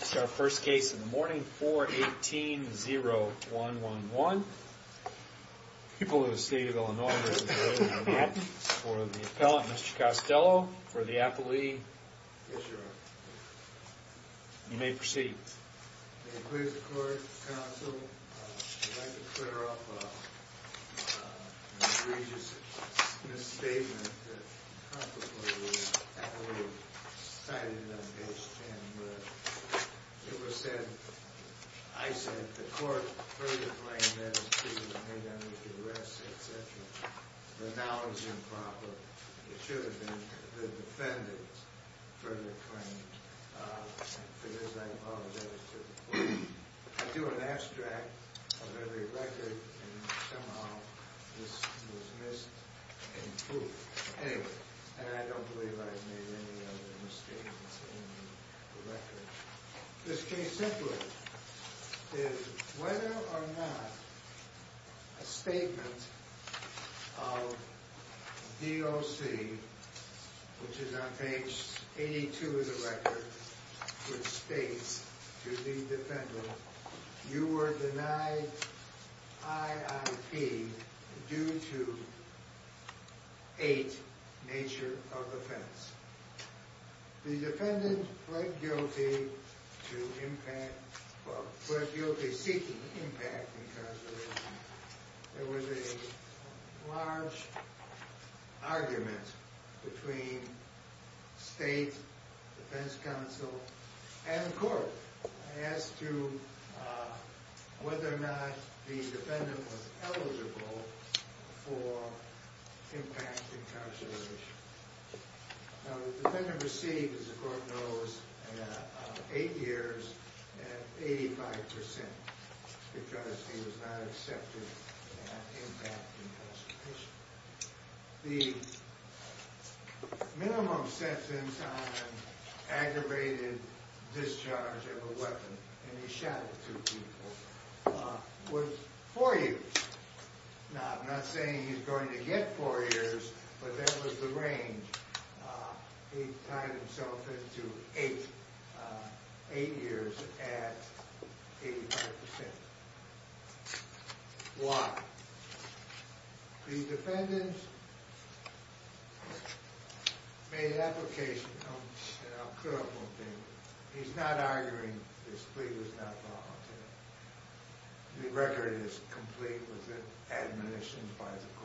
It's our first case in the morning, 4-18-0111. People of the state of Illinois, there's a vote on that. For the appellant, Mr. Costello, for the appellee. Yes, Your Honor. You may proceed. May it please the court, counsel, I'd like to clear up an egregious misstatement that, consequently, the appellee cited on page 10. It was said, I said, the court further claimed that it should have been made under duress, etc. But now it's improper. It should have been the defendant further claimed. For this, I apologize to the court. I do an abstract of every record, and somehow this was missed and proved. Anyway, and I don't believe I've made any other mistakes in the record. This case simply is, whether or not a statement of DOC, which is on page 82 of the record, which states to the defendant, you were denied IIP due to eight nature of offense. The defendant pled guilty to impact, well, pled guilty seeking impact, because there was a large argument between state defense counsel and court. As to whether or not the defendant was eligible for impact incarceration. Now, the defendant received, as the court knows, eight years at 85%, because he was not accepted at impact incarceration. The minimum sentence on aggravated discharge of a weapon, and he shot at two people, was four years. Now, I'm not saying he's going to get four years, but that was the range. He tied himself into eight years at 85%. Why? The defendant made an application, and I'll clear up one thing. He's not arguing this plea was not voluntary. The record is complete with it admonitioned by the court,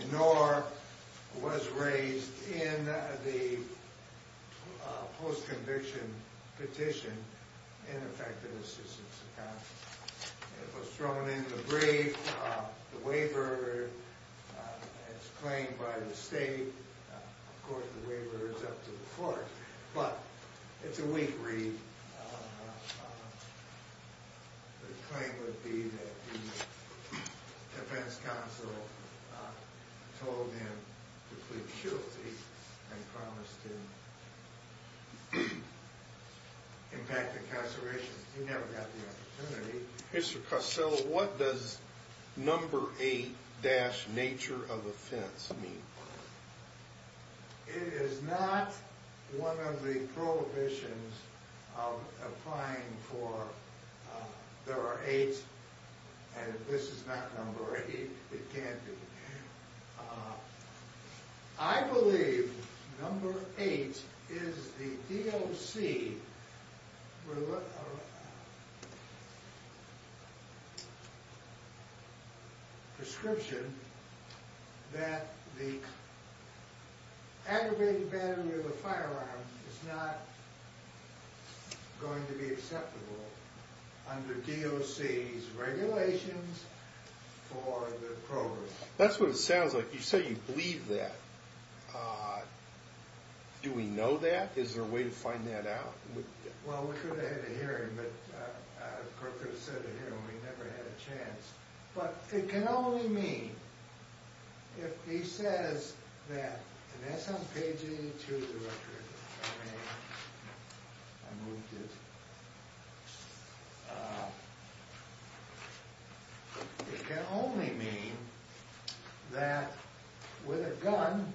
and nor was raised in the post-conviction petition in effective assistance to counsel. It was thrown in the brief. The waiver is claimed by the state. Of course, the waiver is up to the court, but it's a weak read. The claim would be that the defense counsel told him to plead guilty and promised him impact incarceration. He never got the opportunity. Mr. Carsell, what does number eight dash nature of offense mean? It is not one of the prohibitions of applying for there are eight, and this is not number eight. It can't be. I believe number eight is the DOC prescription that the aggravated battery of the firearm is not going to be acceptable under DOC's regulations for the program. That's what it sounds like. You say you believe that. Do we know that? Is there a way to find that out? Well, we could have had a hearing, but the court could have said a hearing. We never had a chance. But it can only mean if he says that, and that's on page 82 of the record. I moved it. It can only mean that with a gun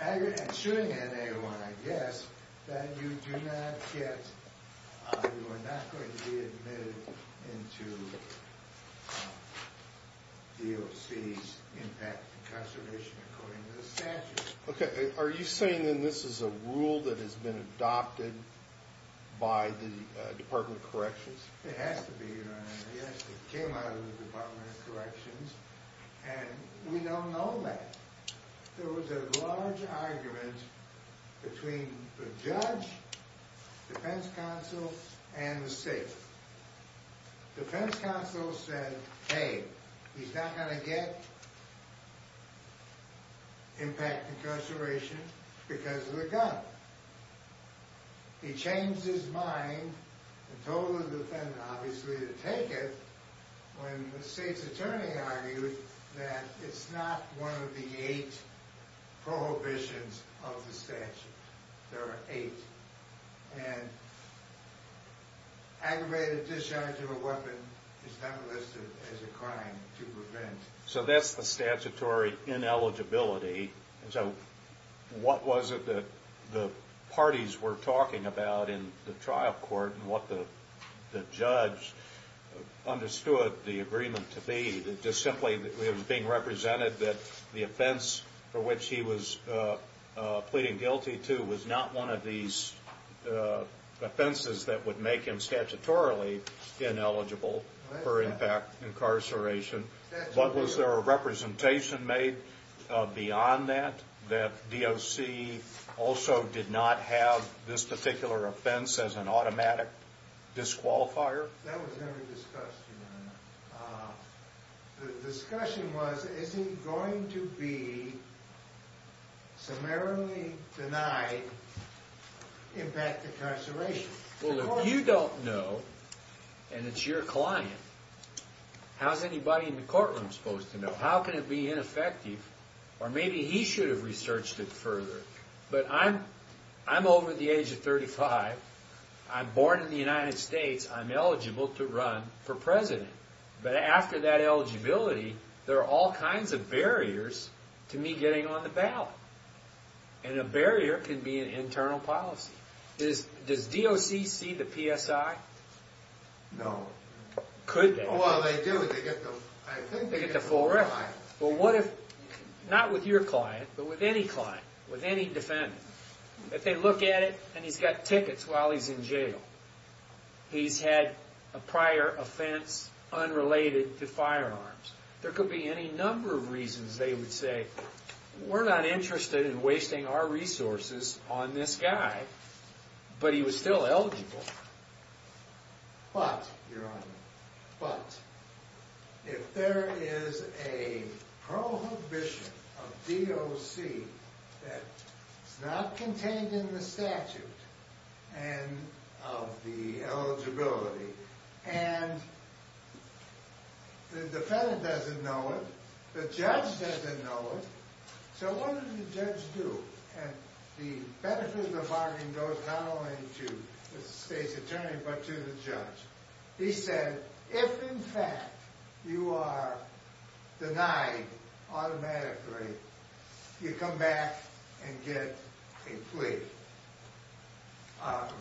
and shooting at anyone, I guess, that you do not get, you are not going to be admitted into DOC's impact incarceration according to the statute. Okay. Are you saying then this is a rule that has been adopted by the Department of Corrections? It has to be, Your Honor. Yes, it came out of the Department of Corrections, and we don't know that. There was a large argument between the judge, defense counsel, and the state. Defense counsel said, hey, he's not going to get impact incarceration because of the gun. He changed his mind and told the defendant, obviously, to take it, when the state's attorney argued that it's not one of the eight prohibitions of the statute. There are eight. And aggravated discharge of a weapon is not listed as a crime to prevent. So that's the statutory ineligibility. So what was it that the parties were talking about in the trial court and what the judge understood the agreement to be? It just simply was being represented that the offense for which he was pleading guilty to was not one of these offenses that would make him statutorily ineligible for impact incarceration. But was there a representation made beyond that, that DOC also did not have this particular offense as an automatic disqualifier? That was never discussed, Your Honor. The discussion was, is he going to be summarily denied impact incarceration? Well, if you don't know and it's your client, how's anybody in the courtroom supposed to know? How can it be ineffective? Or maybe he should have researched it further. But I'm over the age of 35. I'm born in the United States. I'm eligible to run for president. But after that eligibility, there are all kinds of barriers to me getting on the ballot. And a barrier can be an internal policy. Does DOC see the PSI? No. Could they? Well, they do. They get the full record. But what if, not with your client, but with any client, with any defendant, if they look at it and he's got tickets while he's in jail, he's had a prior offense unrelated to firearms, there could be any number of reasons they would say, we're not interested in wasting our resources on this guy, but he was still eligible. But, Your Honor, but, if there is a prohibition of DOC that's not contained in the statute of the eligibility and the defendant doesn't know it, the judge doesn't know it, so what does the judge do? And the benefit of the bargain goes not only to the state's attorney, but to the judge. He said, if in fact you are denied automatically, you come back and get a plea,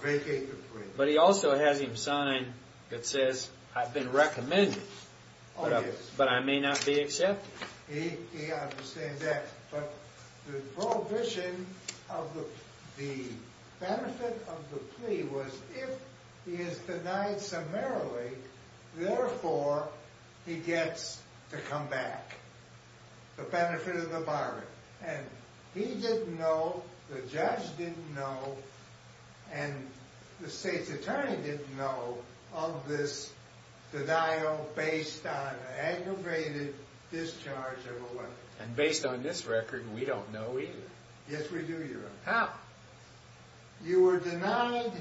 vacate the plea. But he also has him sign that says, I've been recommended, but I may not be accepted. He understands that. But the prohibition of the benefit of the plea was, if he is denied summarily, therefore he gets to come back. The benefit of the bargain. And he didn't know, the judge didn't know, and the state's attorney didn't know of this denial based on an aggravated discharge of a weapon. And based on this record, we don't know either. Yes, we do, Your Honor. How? You were denied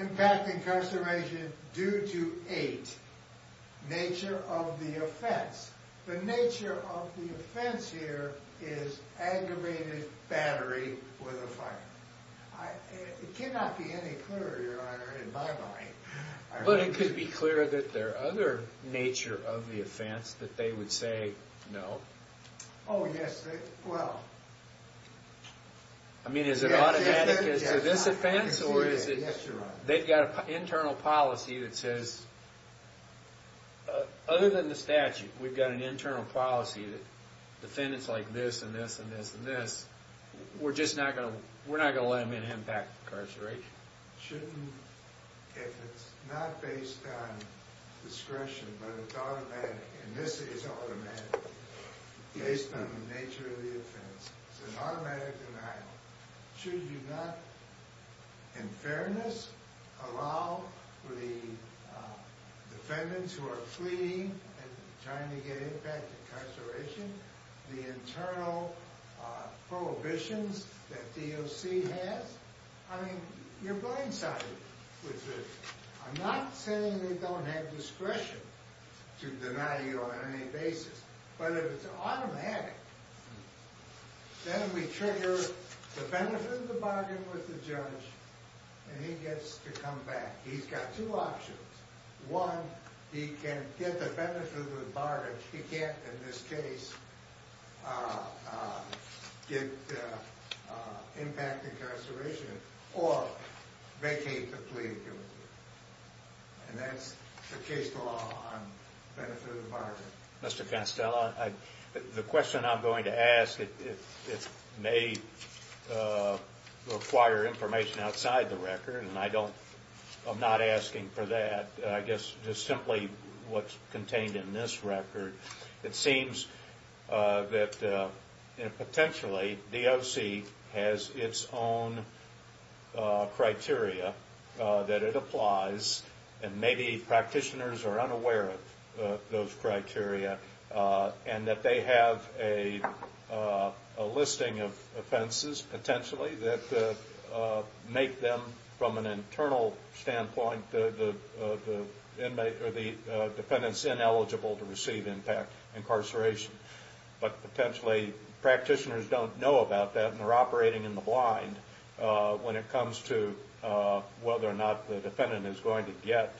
impact incarceration due to eight. Nature of the offense. The nature of the offense here is aggravated battery with a firearm. It cannot be any clearer, Your Honor, in my mind. But it could be clearer that there are other nature of the offense that they would say no. Oh, yes. Well. I mean, is it automatic as to this offense? Yes, Your Honor. They've got an internal policy that says, other than the statute, we've got an internal policy that defendants like this and this and this and this, we're just not going to let them in impact incarceration. Shouldn't, if it's not based on discretion, but it's automatic, and this is automatic, based on the nature of the offense. It's an automatic denial. Should you not, in fairness, allow the defendants who are fleeing and trying to get impact incarceration, the internal prohibitions that DOC has? I mean, you're blindsided with this. I'm not saying they don't have discretion to deny you on any basis, but if it's automatic, then we trigger the benefit of the bargain with the judge, and he gets to come back. He's got two options. One, he can get the benefit of the bargain. He can't, in this case, get impact incarceration or vacate the plea of guilt. And that's the case law on benefit of the bargain. Mr. Canstella, the question I'm going to ask, it may require information outside the record, and I'm not asking for that. I guess just simply what's contained in this record. It seems that, potentially, DOC has its own criteria that it applies, and maybe practitioners are unaware of those criteria, and that they have a listing of offenses, potentially, that make them, from an internal standpoint, the defendant's ineligible to receive impact incarceration. But potentially practitioners don't know about that, and they're operating in the blind when it comes to whether or not the defendant is going to get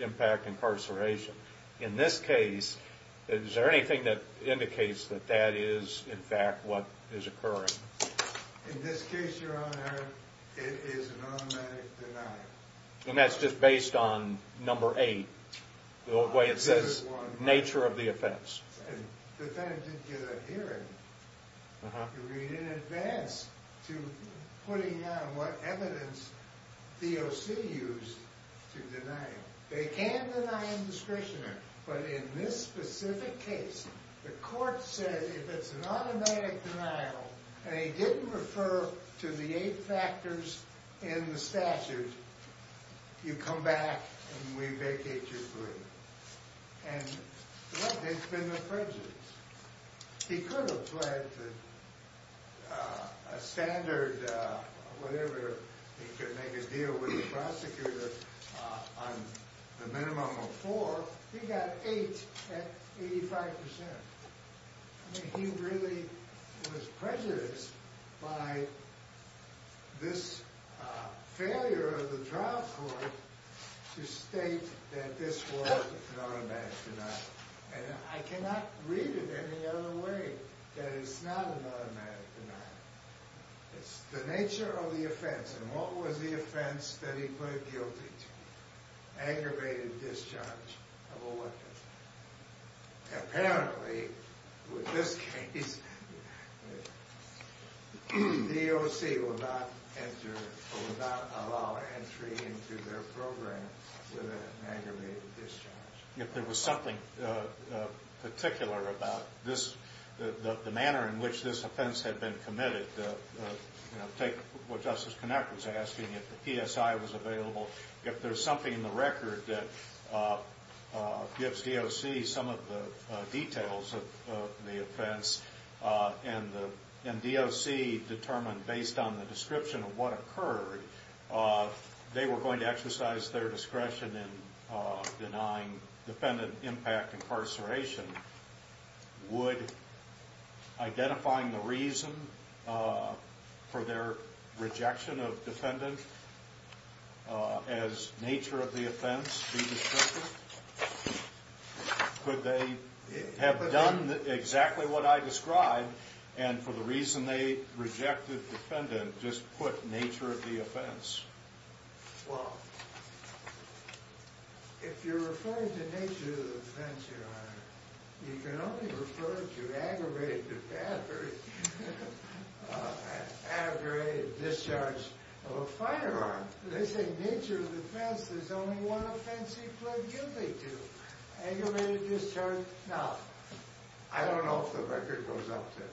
impact incarceration. In this case, is there anything that indicates that that is, in fact, what is occurring? In this case, Your Honor, it is an automatic denial. And that's just based on number eight, the way it says, nature of the offense. The defendant didn't get a hearing to read in advance to putting down what evidence DOC used to deny it. They can deny indiscretion, but in this specific case, the court said if it's an automatic denial, and he didn't refer to the eight factors in the statute, you come back and we vacate your plea. And there's been no prejudice. He could have fled to a standard, whatever, he could make a deal with the prosecutor on the minimum of four. Well, he got eight at 85%. I mean, he really was prejudiced by this failure of the trial court to state that this was an automatic denial. And I cannot read it any other way that it's not an automatic denial. It's the nature of the offense, and what was the offense that he put a guilty to? Aggravated discharge of a weapon. Apparently, with this case, DOC will not allow entry into their program with an aggravated discharge. If there was something particular about the manner in which this offense had been committed, take what Justice Knapp was asking, if the PSI was available, if there's something in the record that gives DOC some of the details of the offense, and DOC determined based on the description of what occurred, they were going to exercise their discretion in denying defendant impact incarceration. Would identifying the reason for their rejection of defendant as nature of the offense be descriptive? Could they have done exactly what I described and for the reason they rejected defendant just put nature of the offense? Well, if you're referring to nature of the offense, Your Honor, you can only refer to aggravated discharge of a firearm. They say nature of the offense, there's only one offense he put guilty to, aggravated discharge. Now, I don't know if the record goes up to it.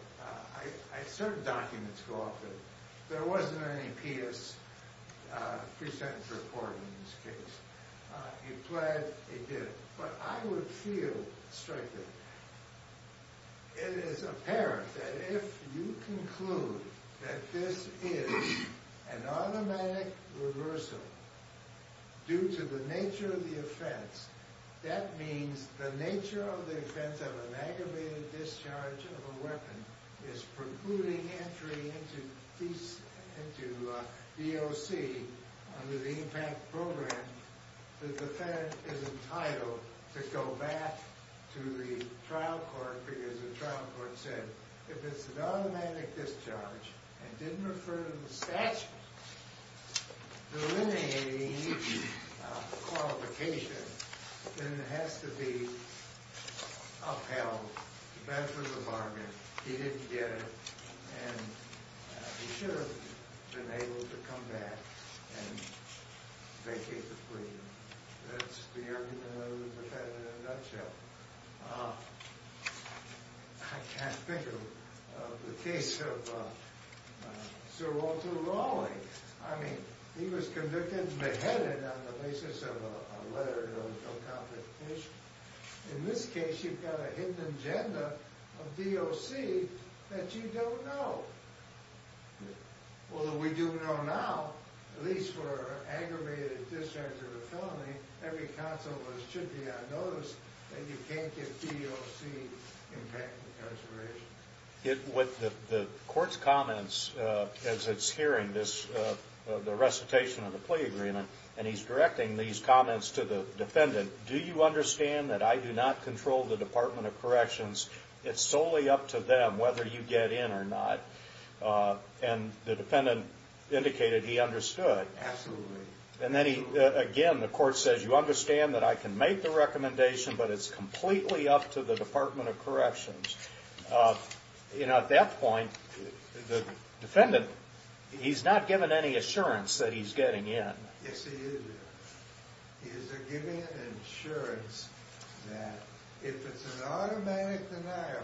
Certain documents go up to it. There wasn't any PS pre-sentence report in this case. He pled, he did it. But I would feel strictly it is apparent that if you conclude that this is an automatic reversal due to the nature of the offense, that means the nature of the offense of an aggravated discharge of a weapon is precluding entry into DOC under the impact program, the defendant is entitled to go back to the trial court because the trial court said if it's an automatic discharge and didn't refer to the statute delineating the qualification, then it has to be upheld. The bench was a bargain. He didn't get it, and he should have been able to come back and vacate the plea. That's the argument of the defendant in a nutshell. I can't think of the case of Sir Walter Raleigh. He was convicted and beheaded on the basis of a letter of no complication. In this case, you've got a hidden agenda of DOC that you don't know. Although we do know now, at least for an aggravated discharge of a felony, every counsel should be on notice that you can't get DOC impact consideration. With the court's comments as it's hearing the recitation of the plea agreement, and he's directing these comments to the defendant, do you understand that I do not control the Department of Corrections? It's solely up to them whether you get in or not. And the defendant indicated he understood. Absolutely. Again, the court says you understand that I can make the recommendation, but it's completely up to the Department of Corrections. At that point, the defendant, he's not given any assurance that he's getting in. Yes, he is. He is given an assurance that if it's an automatic denial,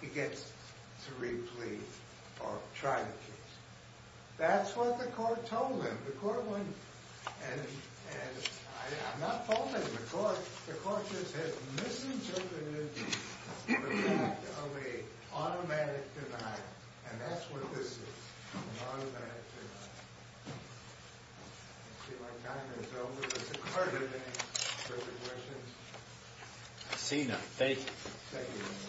he gets to replease or try the case. That's what the court told him. And I'm not faulting the court. The court just has misinterpreted the fact of an automatic denial, and that's what this is, an automatic denial. I see my time is over. Is the court having any further questions? Seeing none. Thank you. Thank you. Thank you.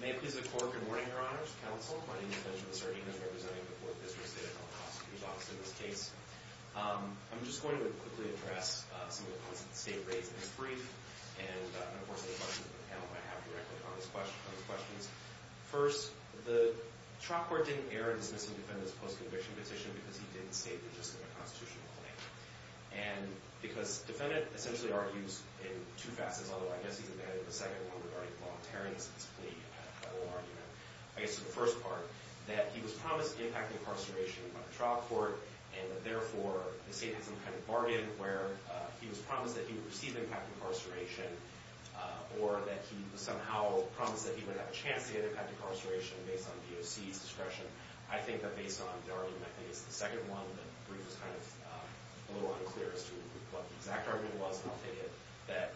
May it please the Court, good morning, Your Honors, Counsel. My name is Benjamin Sardino, representing the Fourth District State Appellate Prosecutor's Office in this case. I'm just going to quickly address some of the points that the State raised in its brief, and, of course, any questions that the panel might have directly on those questions. First, the trial court didn't err in dismissing Defendant's post-conviction petition because he didn't state it just in a constitutional way. And because Defendant essentially argues in two facets, although I guess he's embedded in the second one regarding the voluntariness of this plea, I guess the first part, that he was promised impact incarceration by the trial court and that, therefore, the State had some kind of bargain where he was promised that he would receive impact incarceration or that he somehow promised that he would have a chance to get impact incarceration based on DOC's discretion. I think that based on the argument, I think it's the second one, the brief was kind of a little unclear as to what the exact argument was, and I'll take it that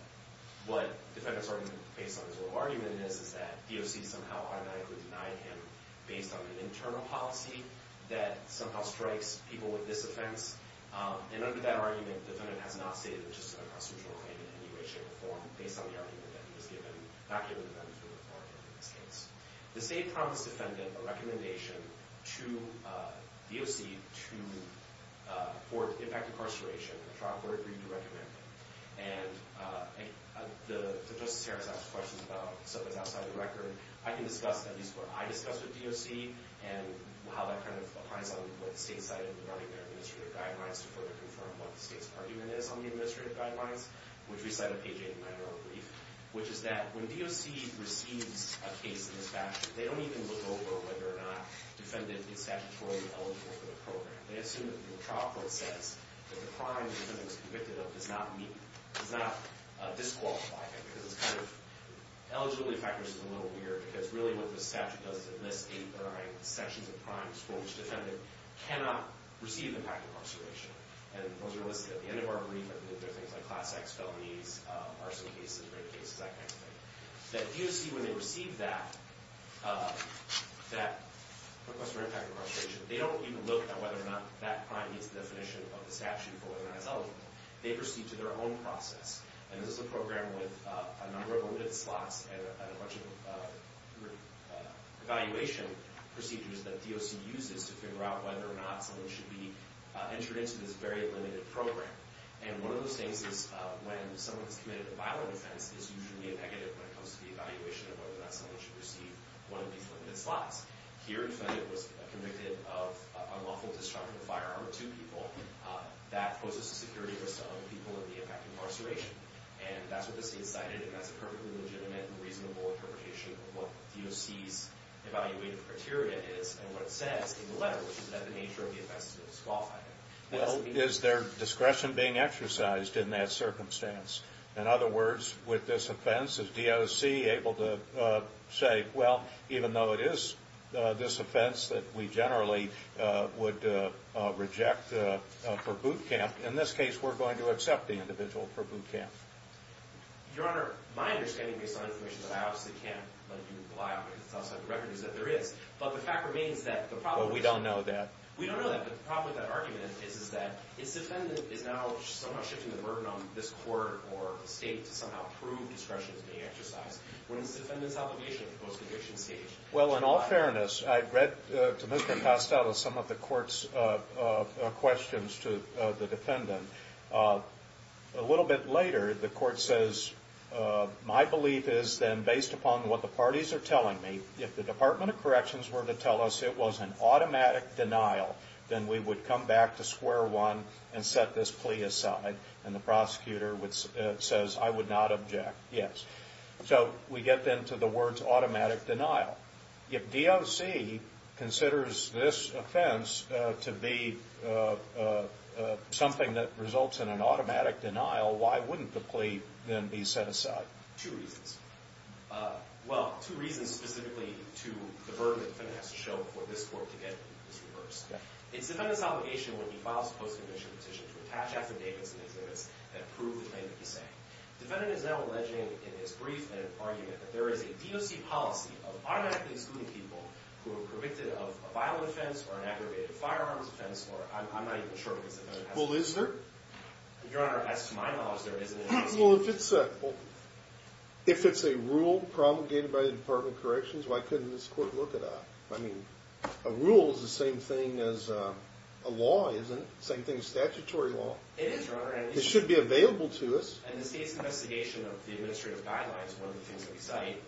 what Defendant's argument based on his little argument is is that DOC somehow automatically denied him based on an internal policy that somehow strikes people with this offense. And under that argument, Defendant has not stated it just in a constitutional claim in any way, shape, or form based on the argument that he was given, not given the benefit of the bargain in this case. The State promised Defendant a recommendation to DOC for impact incarceration, a trial court agreed to recommend it. And to Justice Harris' question about something that's outside the record, I can discuss at least what I discussed with DOC and how that kind of applies on what the State's side of running their administrative guidelines to further confirm what the State's argument is on the administrative guidelines, which we cite on page 89 of our brief, which is that when DOC receives a case in this fashion, they don't even look over whether or not Defendant is statutorily eligible for the program. They assume that the trial court says that the crime that Defendant was convicted of does not disqualify him, because it's kind of... Eligibility factors is a little weird, because really what the statute does is enlist eight or nine sections of crimes for which Defendant cannot receive impact incarceration. And those are listed at the end of our brief. There are things like Class X felonies, arson cases, rape cases, that kind of thing. That DOC, when they receive that request for impact incarceration, they don't even look at whether or not that crime meets the definition of the statute for whether or not it's eligible. They proceed to their own process. And this is a program with a number of limited slots and a bunch of evaluation procedures that DOC uses to figure out whether or not someone should be entered into this very limited program. And one of those things is when someone's committed a violent offense, it's usually a negative when it comes to the evaluation of whether or not someone should receive one of these limited slots. Here, Defendant was convicted of unlawful destruction of firearms to people. That poses a security risk to other people in the impact incarceration. And that's what the state cited, and that's a perfectly legitimate and reasonable interpretation of what DOC's evaluated criteria is and what it says in the letter, which is that the nature of the offense is disqualified. Well, is there discretion being exercised in that circumstance? In other words, with this offense, is DOC able to say, well, even though it is this offense that we generally would reject for boot camp, in this case we're going to accept the individual for boot camp. Your Honor, my understanding based on information that I obviously can't let you rely on because it's outside the record is that there is, but the fact remains that the problem is Well, we don't know that. We don't know that, but the problem with that argument is that if the defendant is now somehow shifting the burden on this court or the state to somehow prove discretion is being exercised, what is the defendant's obligation at the post-conviction stage? Well, in all fairness, I read to Mr. Costello some of the court's questions to the defendant. A little bit later, the court says, my belief is then based upon what the parties are telling me, if the Department of Corrections were to tell us it was an automatic denial, then we would come back to square one and set this plea aside. And the prosecutor says, I would not object. Yes. So we get then to the words automatic denial. If DOC considers this offense to be something that results in an automatic denial, why wouldn't the plea then be set aside? Two reasons. Well, two reasons specifically to the burden that the defendant has to show before this court to get this reversed. It's the defendant's obligation when he files a post-conviction petition to attach affidavits and exhibits that prove the claim that he's saying. The defendant is now alleging in his brief and argument that there is a DOC policy of automatically excluding people who are predicted of a violent offense or an aggravated firearms offense, or I'm not even sure if it's a DOC policy. Well, is there? Your Honor, as to my knowledge, there isn't a DOC policy. Well, if it's a rule promulgated by the Department of Corrections, why couldn't this court look it up? I mean, a rule is the same thing as a law, isn't it? Same thing as statutory law. It is, Your Honor. It should be available to us. And the state's investigation of the administrative guidelines, one of the things that we cite,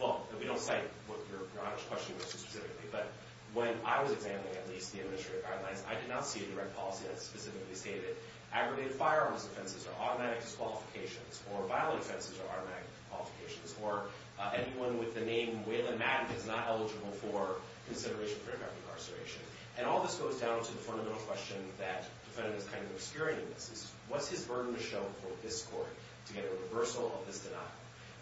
well, we don't cite what Your Honor's question was specifically, but when I was examining at least the administrative guidelines, I did not see a direct policy that specifically stated that aggravated firearms offenses are automatic disqualifications, or violent offenses are automatic disqualifications, or anyone with the name Waylon Maddox is not eligible for consideration for direct incarceration. And all this goes down to the fundamental question that the defendant is kind of obscuring in this. What's his burden to show for this court to get a reversal of this denial?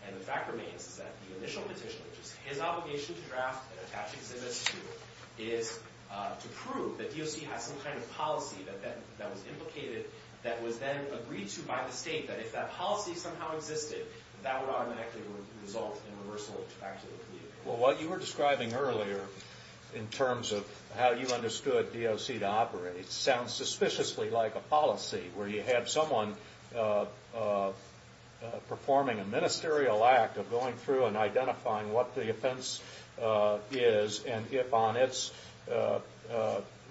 And the fact remains is that the initial petition, which is his obligation to draft and attach exhibits to, is to prove that DOC has some kind of policy that was implicated, that was then agreed to by the state, that if that policy somehow existed, that would automatically result in reversal back to the community. Well, what you were describing earlier, in terms of how you understood DOC to operate, sounds suspiciously like a policy, where you have someone performing a ministerial act of going through and identifying what the offense is, and if on its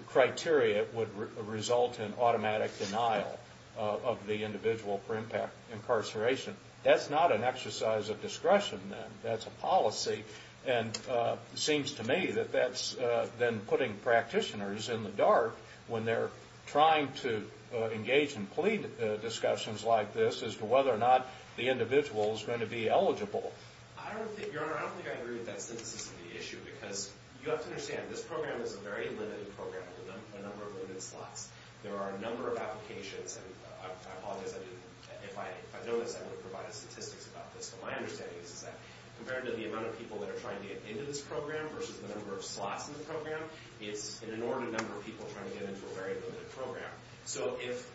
criteria it would result in automatic denial of the individual for impact incarceration. That's not an exercise of discretion, then. That's a policy. And it seems to me that that's then putting practitioners in the dark when they're trying to engage in plea discussions like this as to whether or not the individual is going to be eligible. Your Honor, I don't think I agree with that synthesis of the issue, because you have to understand this program is a very limited program with a number of limited slots. There are a number of applications, and I apologize if I notice I haven't provided statistics about this, but my understanding is that compared to the amount of people that are trying to get into this program versus the number of slots in the program, it's an inordinate number of people trying to get into a very limited program. So if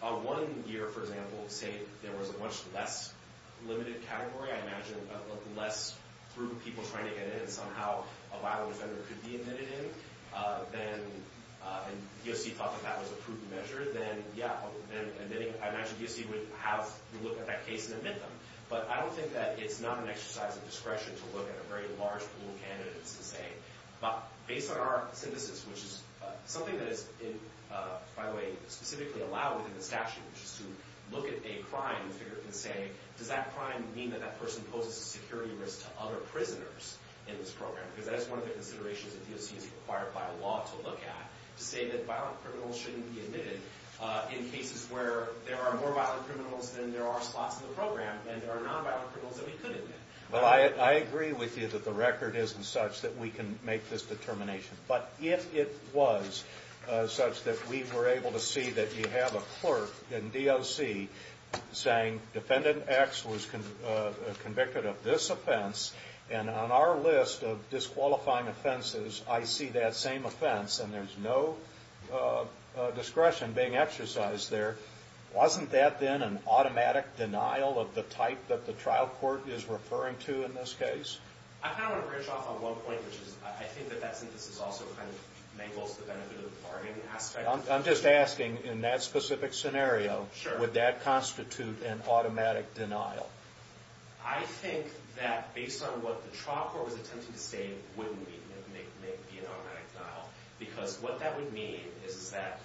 one year, for example, say, there was a much less limited category, I imagine less group of people trying to get in and somehow a violent offender could be admitted in, and DOC thought that that was a prudent measure, then yeah, I imagine DOC would have to look at that case and admit them. But I don't think that it's not an exercise of discretion to look at a very large pool of candidates and say, based on our synthesis, which is something that is, by the way, specifically allowed within the statute, which is to look at a crime and figure out and say, does that crime mean that that person poses a security risk to other prisoners in this program? Because that is one of the considerations that DOC is required by law to look at, to say that violent criminals shouldn't be admitted in cases where there are more violent criminals than there are slots in the program, and there are nonviolent criminals that we could admit. Well, I agree with you that the record isn't such that we can make this determination. But if it was such that we were able to see that you have a clerk in DOC saying, defendant X was convicted of this offense, and on our list of disqualifying offenses I see that same offense, and there's no discretion being exercised there, wasn't that then an automatic denial of the type that the trial court is referring to in this case? I kind of want to branch off on one point, which is I think that that synthesis also kind of mangles the benefit of the bargain aspect. I'm just asking, in that specific scenario, would that constitute an automatic denial? I think that based on what the trial court was attempting to say, it wouldn't be an automatic denial. Because what that would mean is that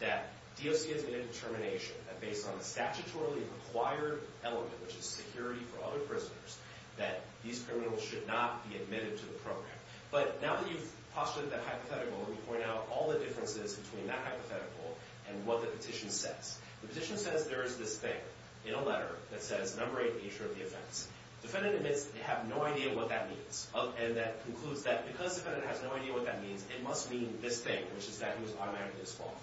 DOC has made a determination that based on the statutorily required element, which is security for other prisoners, that these criminals should not be admitted to the program. But now that you've postulated that hypothetical, let me point out all the differences between that hypothetical and what the petition says. The petition says there is this thing in a letter that says, number eight, nature of the offense. Defendant admits that they have no idea what that means. And that concludes that because the defendant has no idea what that means, it must mean this thing, which is that he was automatically disqualified.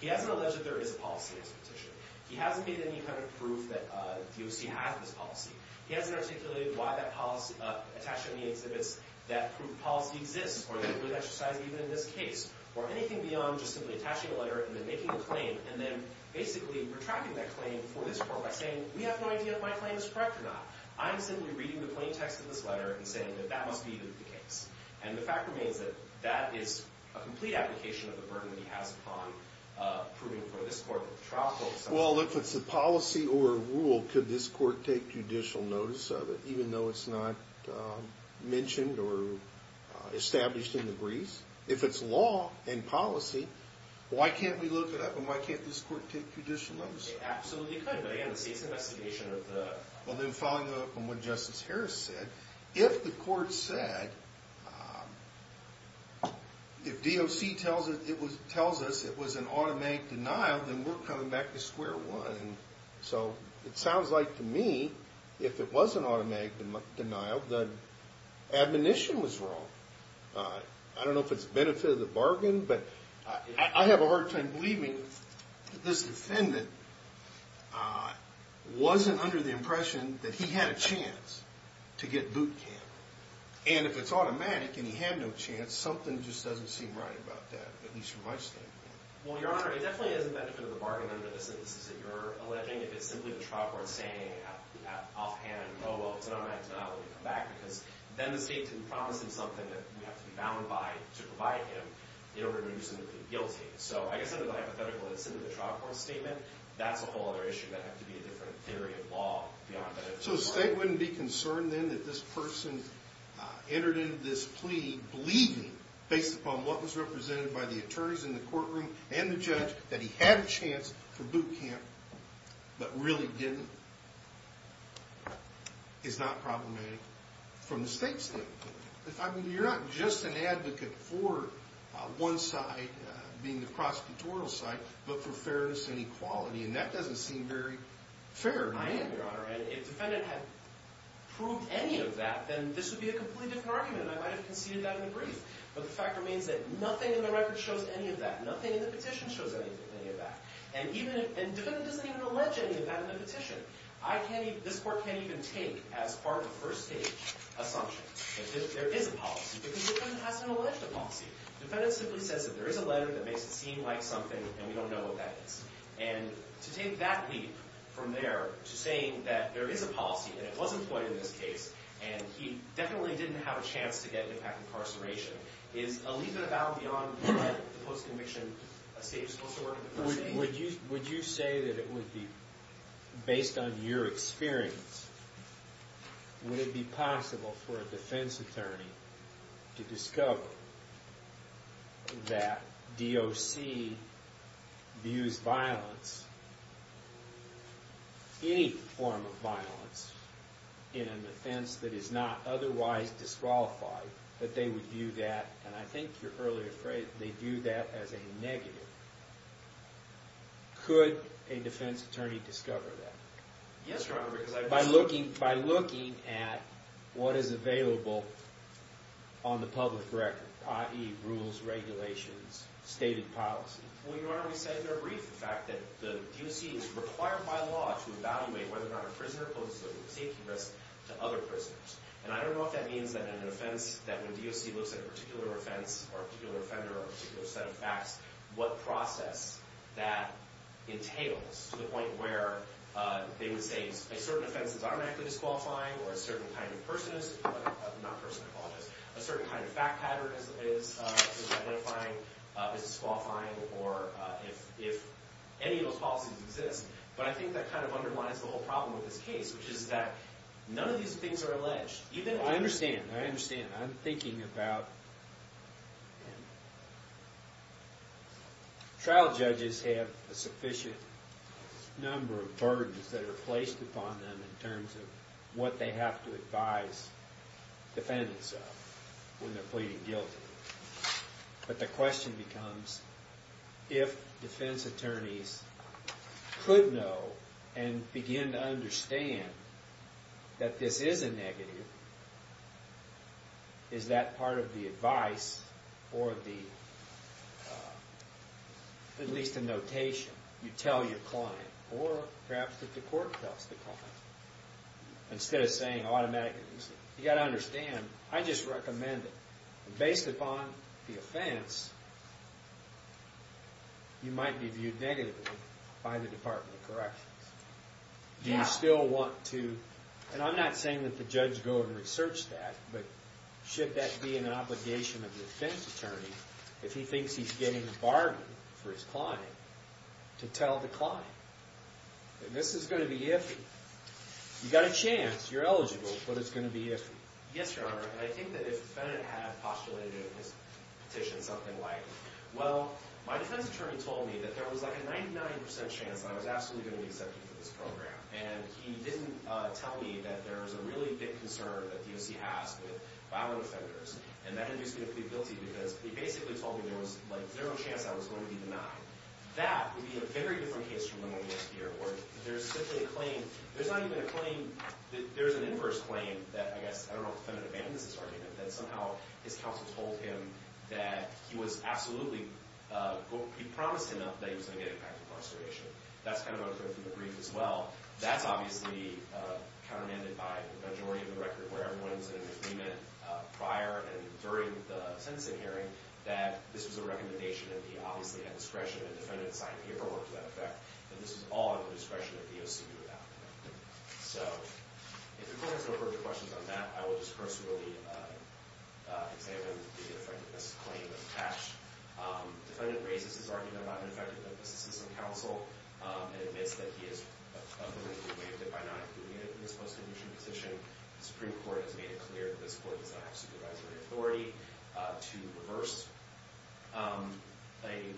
He hasn't alleged that there is a policy in this petition. He hasn't made any kind of proof that DOC has this policy. He hasn't articulated why that policy, attached to any exhibits, that proof policy exists or that it would exercise even in this case, or anything beyond just simply attaching a letter and then making a claim and then basically retracting that claim before this court by saying, we have no idea if my claim is correct or not. I'm simply reading the plain text of this letter and saying that that must be the case. And the fact remains that that is a complete application of the burden that he has upon proving for this court that the trial holds. Well, if it's a policy or a rule, could this court take judicial notice of it, even though it's not mentioned or established in the briefs? If it's law and policy, why can't we look at it? Why can't this court take judicial notice of it? It absolutely could. But, again, the state's investigation of the… Well, then following up on what Justice Harris said, if the court said, if DOC tells us it was an automatic denial, then we're coming back to square one. So it sounds like to me if it was an automatic denial, then admonition was wrong. I don't know if it's the benefit of the bargain, but I have a hard time believing that this defendant wasn't under the impression that he had a chance to get boot camp. And if it's automatic and he had no chance, something just doesn't seem right about that, at least from my standpoint. Well, Your Honor, it definitely isn't the benefit of the bargain under the sentences that you're alleging. If it's simply the trial court saying offhand, oh, well, it's an automatic denial, we'll come back, because then the state can promise him something that we have to be bound by to provide him in order to do something guilty. So I guess under the hypothetical that it's simply the trial court statement, that's a whole other issue that'd have to be a different theory of law beyond benefit of the bargain. So the state wouldn't be concerned then that this person entered into this plea believing, based upon what was represented by the attorneys in the courtroom and the judge, that he had a chance for boot camp but really didn't? It's not problematic from the state's standpoint. I mean, you're not just an advocate for one side being the prosecutorial side, but for fairness and equality, and that doesn't seem very fair to me. I am, Your Honor. If the defendant had proved any of that, then this would be a completely different argument, and I might have conceded that in the brief. But the fact remains that nothing in the record shows any of that. Nothing in the petition shows any of that. And the defendant doesn't even allege any of that in the petition. This court can't even take as part of a first-stage assumption that there is a policy, because the defendant hasn't alleged a policy. The defendant simply says that there is a letter that makes it seem like something, and we don't know what that is. And to take that leap from there to saying that there is a policy, and it was employed in this case, and he definitely didn't have a chance to get impact incarceration, is a leap and a bow beyond what the post-conviction state is supposed to work in the first stage? Would you say that it would be, based on your experience, would it be possible for a defense attorney to discover that DOC views violence, any form of violence in an offense that is not otherwise disqualified, that they would view that, and I think your earlier phrase, they view that as a negative, could a defense attorney discover that? Yes, Your Honor, because I... By looking at what is available on the public record, i.e. rules, regulations, stated policy. Well, Your Honor, we said in our brief the fact that the DOC is required by law to evaluate whether or not a prisoner poses a safety risk to other prisoners. And I don't know if that means that an offense, that when DOC looks at a particular offense or a particular offender or a particular set of facts, what process that entails to the point where they would say a certain offense is automatically disqualifying or a certain kind of person is, not person, I apologize, a certain kind of fact pattern is disqualifying or if any of those policies exist. But I think that kind of underlines the whole problem with this case, which is that none of these things are alleged. I understand, I understand. I'm thinking about... Trial judges have a sufficient number of burdens that are placed upon them in terms of what they have to advise defendants of when they're pleading guilty. But the question becomes, if defense attorneys could know and begin to understand that this is a negative, is that part of the advice or at least a notation you tell your client or perhaps that the court tells the client? Instead of saying automatically, you've got to understand, I just recommend it. Based upon the offense, you might be viewed negatively by the Department of Corrections. Do you still want to... And I'm not saying that the judge go and research that, but should that be an obligation of the defense attorney if he thinks he's getting a bargain for his client to tell the client that this is going to be iffy? You've got a chance, you're eligible, but it's going to be iffy. Yes, Your Honor. And I think that if the defendant had postulated in his petition something like, well, my defense attorney told me that there was like a 99% chance that I was absolutely going to be accepted for this program. And he didn't tell me that there was a really big concern that DOC has with violent offenders. And that induced me to plead guilty because he basically told me there was like zero chance I was going to be denied. That would be a very different case from the one we have here where there's simply a claim, there's not even a claim, I mean, there's an inverse claim that I guess, I don't know if the defendant abandoned this argument, that somehow his counsel told him that he was absolutely, he promised him that he was going to get back to incarceration. That's kind of what occurred through the brief as well. That's obviously countermanded by the majority of the record where everyone's in agreement prior and during the sentencing hearing that this was a recommendation and he obviously had discretion and the defendant signed a paperwork to that effect. And this was all at the discretion of DOC to do that. So, if the court has no further questions on that, I will just personally examine the effectiveness claim attached. Defendant raises his argument about the effectiveness of this system of counsel and admits that he has publicly waived it by not including it in his post-conviction petition. The Supreme Court has made it clear that this court does not have supervisory authority to reverse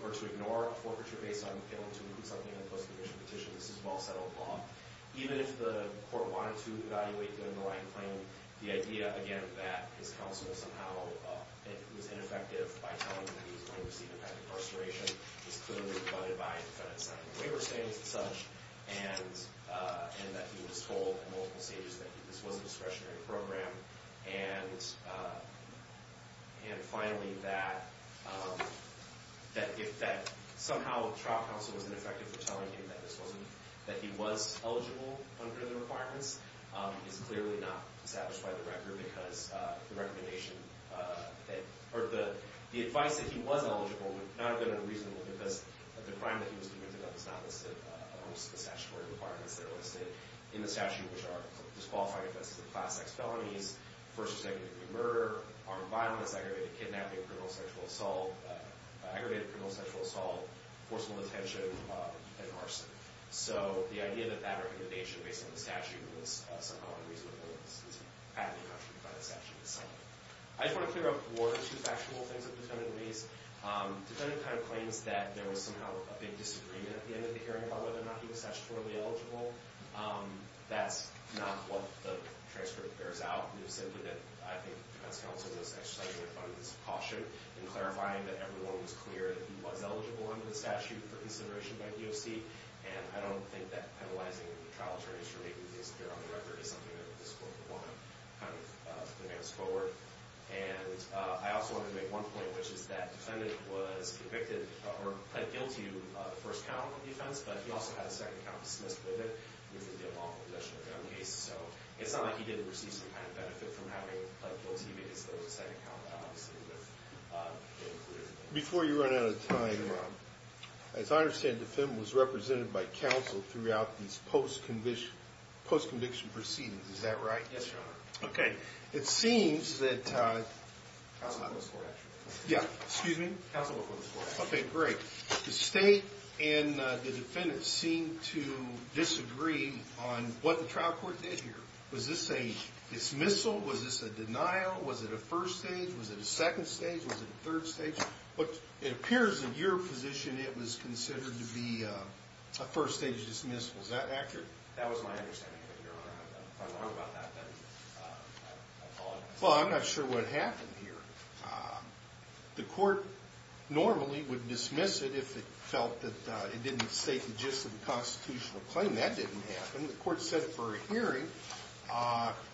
or to ignore a forfeiture based on failing to include something in the post-conviction petition. This is well-settled law. Even if the court wanted to evaluate, given the right claim, the idea, again, that his counsel somehow was ineffective by telling him that he was going to receive a path to incarceration, was clearly abutted by defendant signing waiver statements and such, and that he was told at multiple stages that this was a discretionary program. And finally, that somehow trial counsel was ineffective for telling him that he was eligible under the requirements is clearly not established by the record because the advice that he was eligible would not have been unreasonable because the crime that he was convicted of is not listed amongst the statutory requirements that are listed in the statute, which are disqualifying offenses of class X felonies, first or second degree murder, armed violence, aggravated kidnapping, criminal sexual assault, forcible detention, and arson. So the idea that that recommendation, based on the statute, was somehow unreasonable is aptly contradicted by the statute itself. I just want to clear up two factual things that the defendant raised. Defendant kind of claims that there was somehow a big disagreement at the end of the hearing about whether or not he was statutorily eligible. That's not what the transcript bears out. I think defense counsel was exercising the abundance of caution in clarifying that everyone was clear that he was eligible under the statute for consideration by DOC, and I don't think that penalizing trial attorneys for making things appear on the record is something that this court would want to kind of advance forward. And I also wanted to make one point, which is that the defendant was convicted or pled guilty to the first count of defense, but he also had a second count dismissed with it, which would be a lawful possession of his own case. So it's not like he didn't receive some kind of benefit from having pled guilty, because there was a second count, obviously, with it included. Before you run out of time, as I understand, the defendant was represented by counsel throughout these post-conviction proceedings. Is that right? Yes, Your Honor. Okay. It seems that... Counsel before this court, actually. Yeah. Excuse me? Counsel before this court, actually. Okay, great. The State and the defendant seem to disagree on what the trial court did here. Was this a dismissal? Was this a denial? Was it a first stage? Was it a second stage? Was it a third stage? But it appears in your position it was considered to be a first-stage dismissal. Is that accurate? That was my understanding, Your Honor. If I'm wrong about that, then I apologize. Well, I'm not sure what happened here. The court normally would dismiss it if it felt that it didn't state the gist of the constitutional claim. That didn't happen. The court set it for a hearing.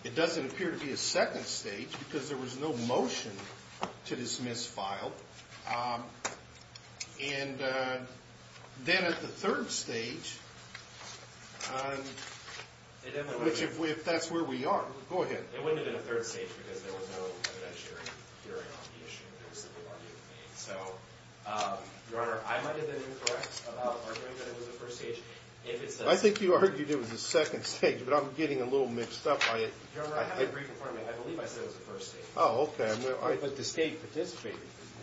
It doesn't appear to be a second stage, because there was no motion to dismiss file. And then at the third stage, which if that's where we are... Go ahead. It wouldn't have been a third stage, because there was no evidentiary hearing on the issue. So, Your Honor, I might have been incorrect about arguing that it was a first stage. I think you argued it was a second stage, but I'm getting a little mixed up. Your Honor, I have a brief report, and I believe I said it was a first stage. Oh, okay. But the State participated, didn't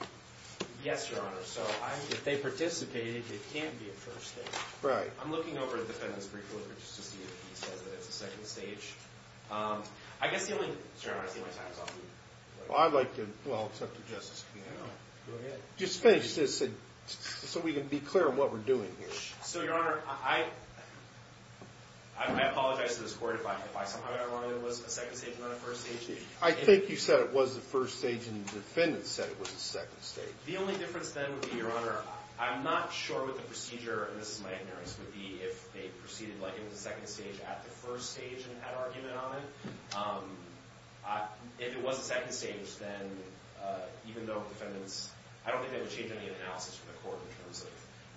they? Yes, Your Honor. So if they participated, it can't be a first stage. Right. I'm looking over the defendant's brief report just to see if he says that it's a second stage. I guess the only... Sorry, Your Honor, I think my time is up. Well, I'd like to... Well, it's up to Justice Kavanaugh. Go ahead. Just finish this so we can be clear on what we're doing here. So, Your Honor, I apologize to this court if I somehow got wrong and it was a second stage and not a first stage. I think you said it was a first stage, and the defendant said it was a second stage. The only difference then would be, Your Honor, I'm not sure what the procedure, and this is my ignorance, would be if they proceeded like it was a second stage at the first stage and had argument on it. If it was a second stage, then even though defendants... I don't think that would change any of the analysis from the court in terms of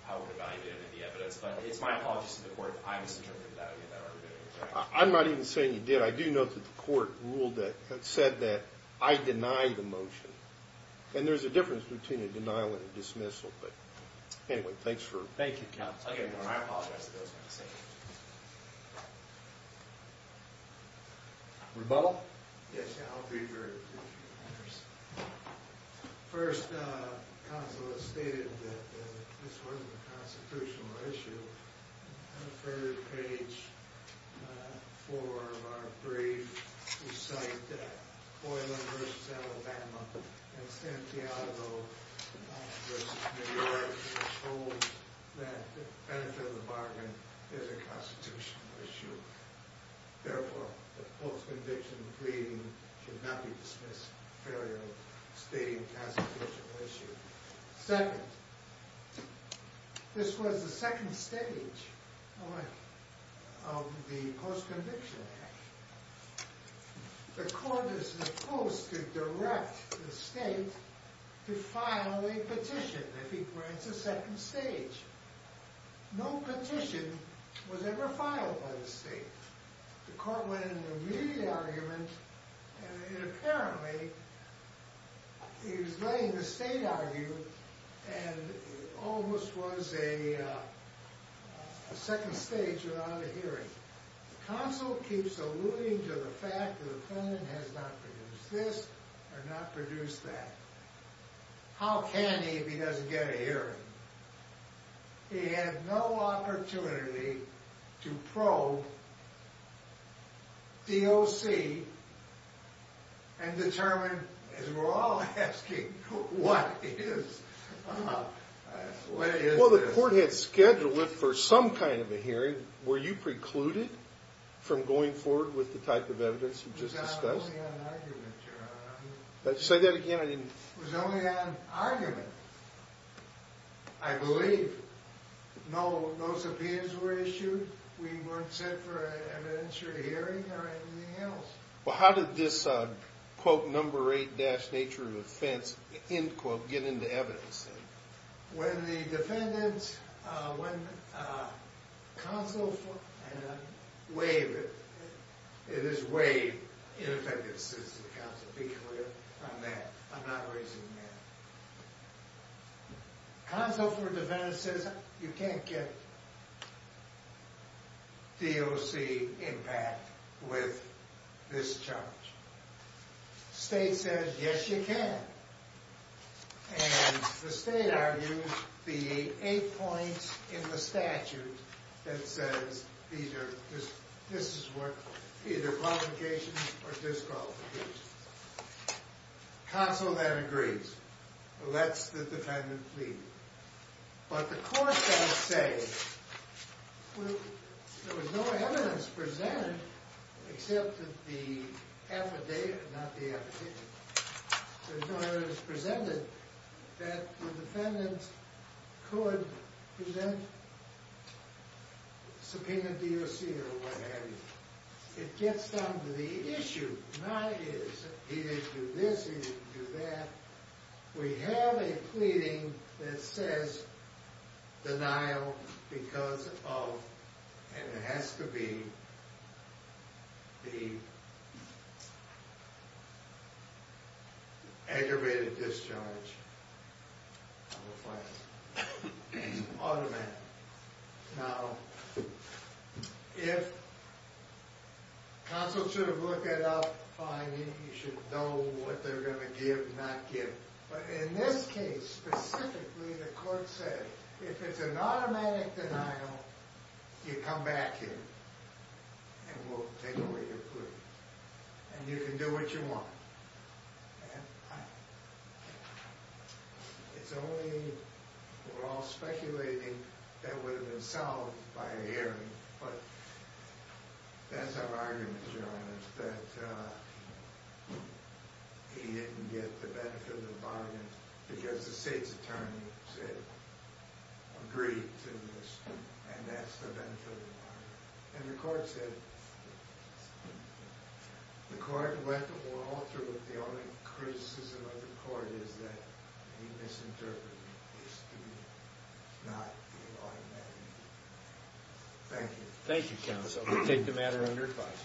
how it would evaluate any of the evidence. But it's my apologies to the court if I misinterpreted that argument. I'm not even saying you did. I do note that the court ruled that, said that I deny the motion. And there's a difference between a denial and a dismissal. But, anyway, thanks for... Thank you, counsel. Okay, Your Honor. I apologize for those things. Rebuttal? Yes, Your Honor. First, counsel has stated that this wasn't a constitutional issue. On the third page, four of our briefs recite that Boylan v. Alabama and Santiago v. New York have told that the benefit of the bargain is a constitutional issue. Therefore, the post-conviction pleading should not be dismissed as a failure of stating a constitutional issue. Second, this was the second stage of the post-conviction act. The court is supposed to direct the state to file a petition if he grants a second stage. No petition was ever filed by the state. The court went into an immediate argument, and apparently, he was letting the state argue, and it almost was a second stage without a hearing. The counsel keeps alluding to the fact that the defendant has not produced this or not produced that. How can he if he doesn't get a hearing? He had no opportunity to probe DOC and determine, as we're all asking, what is this? Well, the court had scheduled it for some kind of a hearing. Were you precluded from going forward with the type of evidence you just discussed? It was only on argument, Your Honor. Say that again. It was only on argument, I believe. No subpoenas were issued. We weren't set for an evidentiary hearing or anything else. Well, how did this, quote, number eight-dash nature of offense, end quote, get into evidence? When the defendant, when counsel, and I'm waiving it. It is waived. In effect, it sits in the counsel. Be clear on that. I'm not raising hands. Counsel for a defendant says, you can't get DOC impact with this charge. State says, yes, you can. And the state argues the eight points in the statute that says this is what, either qualifications or disqualifications. Counsel then agrees, lets the defendant plead. But the court does say, well, there was no evidence presented except that the affidavit, not the affidavit. There's no evidence presented that the defendant could present subpoena DOC or what have you. It gets down to the issue, not his. He didn't do this, he didn't do that. We have a pleading that says denial because of, and it has to be, the aggravated discharge of a fine. Automatic. Now, if counsel should have looked it up, fine, you should know what they're going to give and not give. But in this case, specifically, the court said, if it's an automatic denial, you come back in and we'll take away your plea. And you can do what you want. And I, it's only, we're all speculating that would have been solved by a hearing. But that's our argument, Your Honor, that he didn't get the benefit of the bargain because the state's attorney said, agreed to this. And that's the benefit of the bargain. And the court said, the court left the wall through it. The only criticism of the court is that he misinterpreted the subpoena, not the automatic denial. Thank you. Thank you, counsel. We'll take the matter under advice.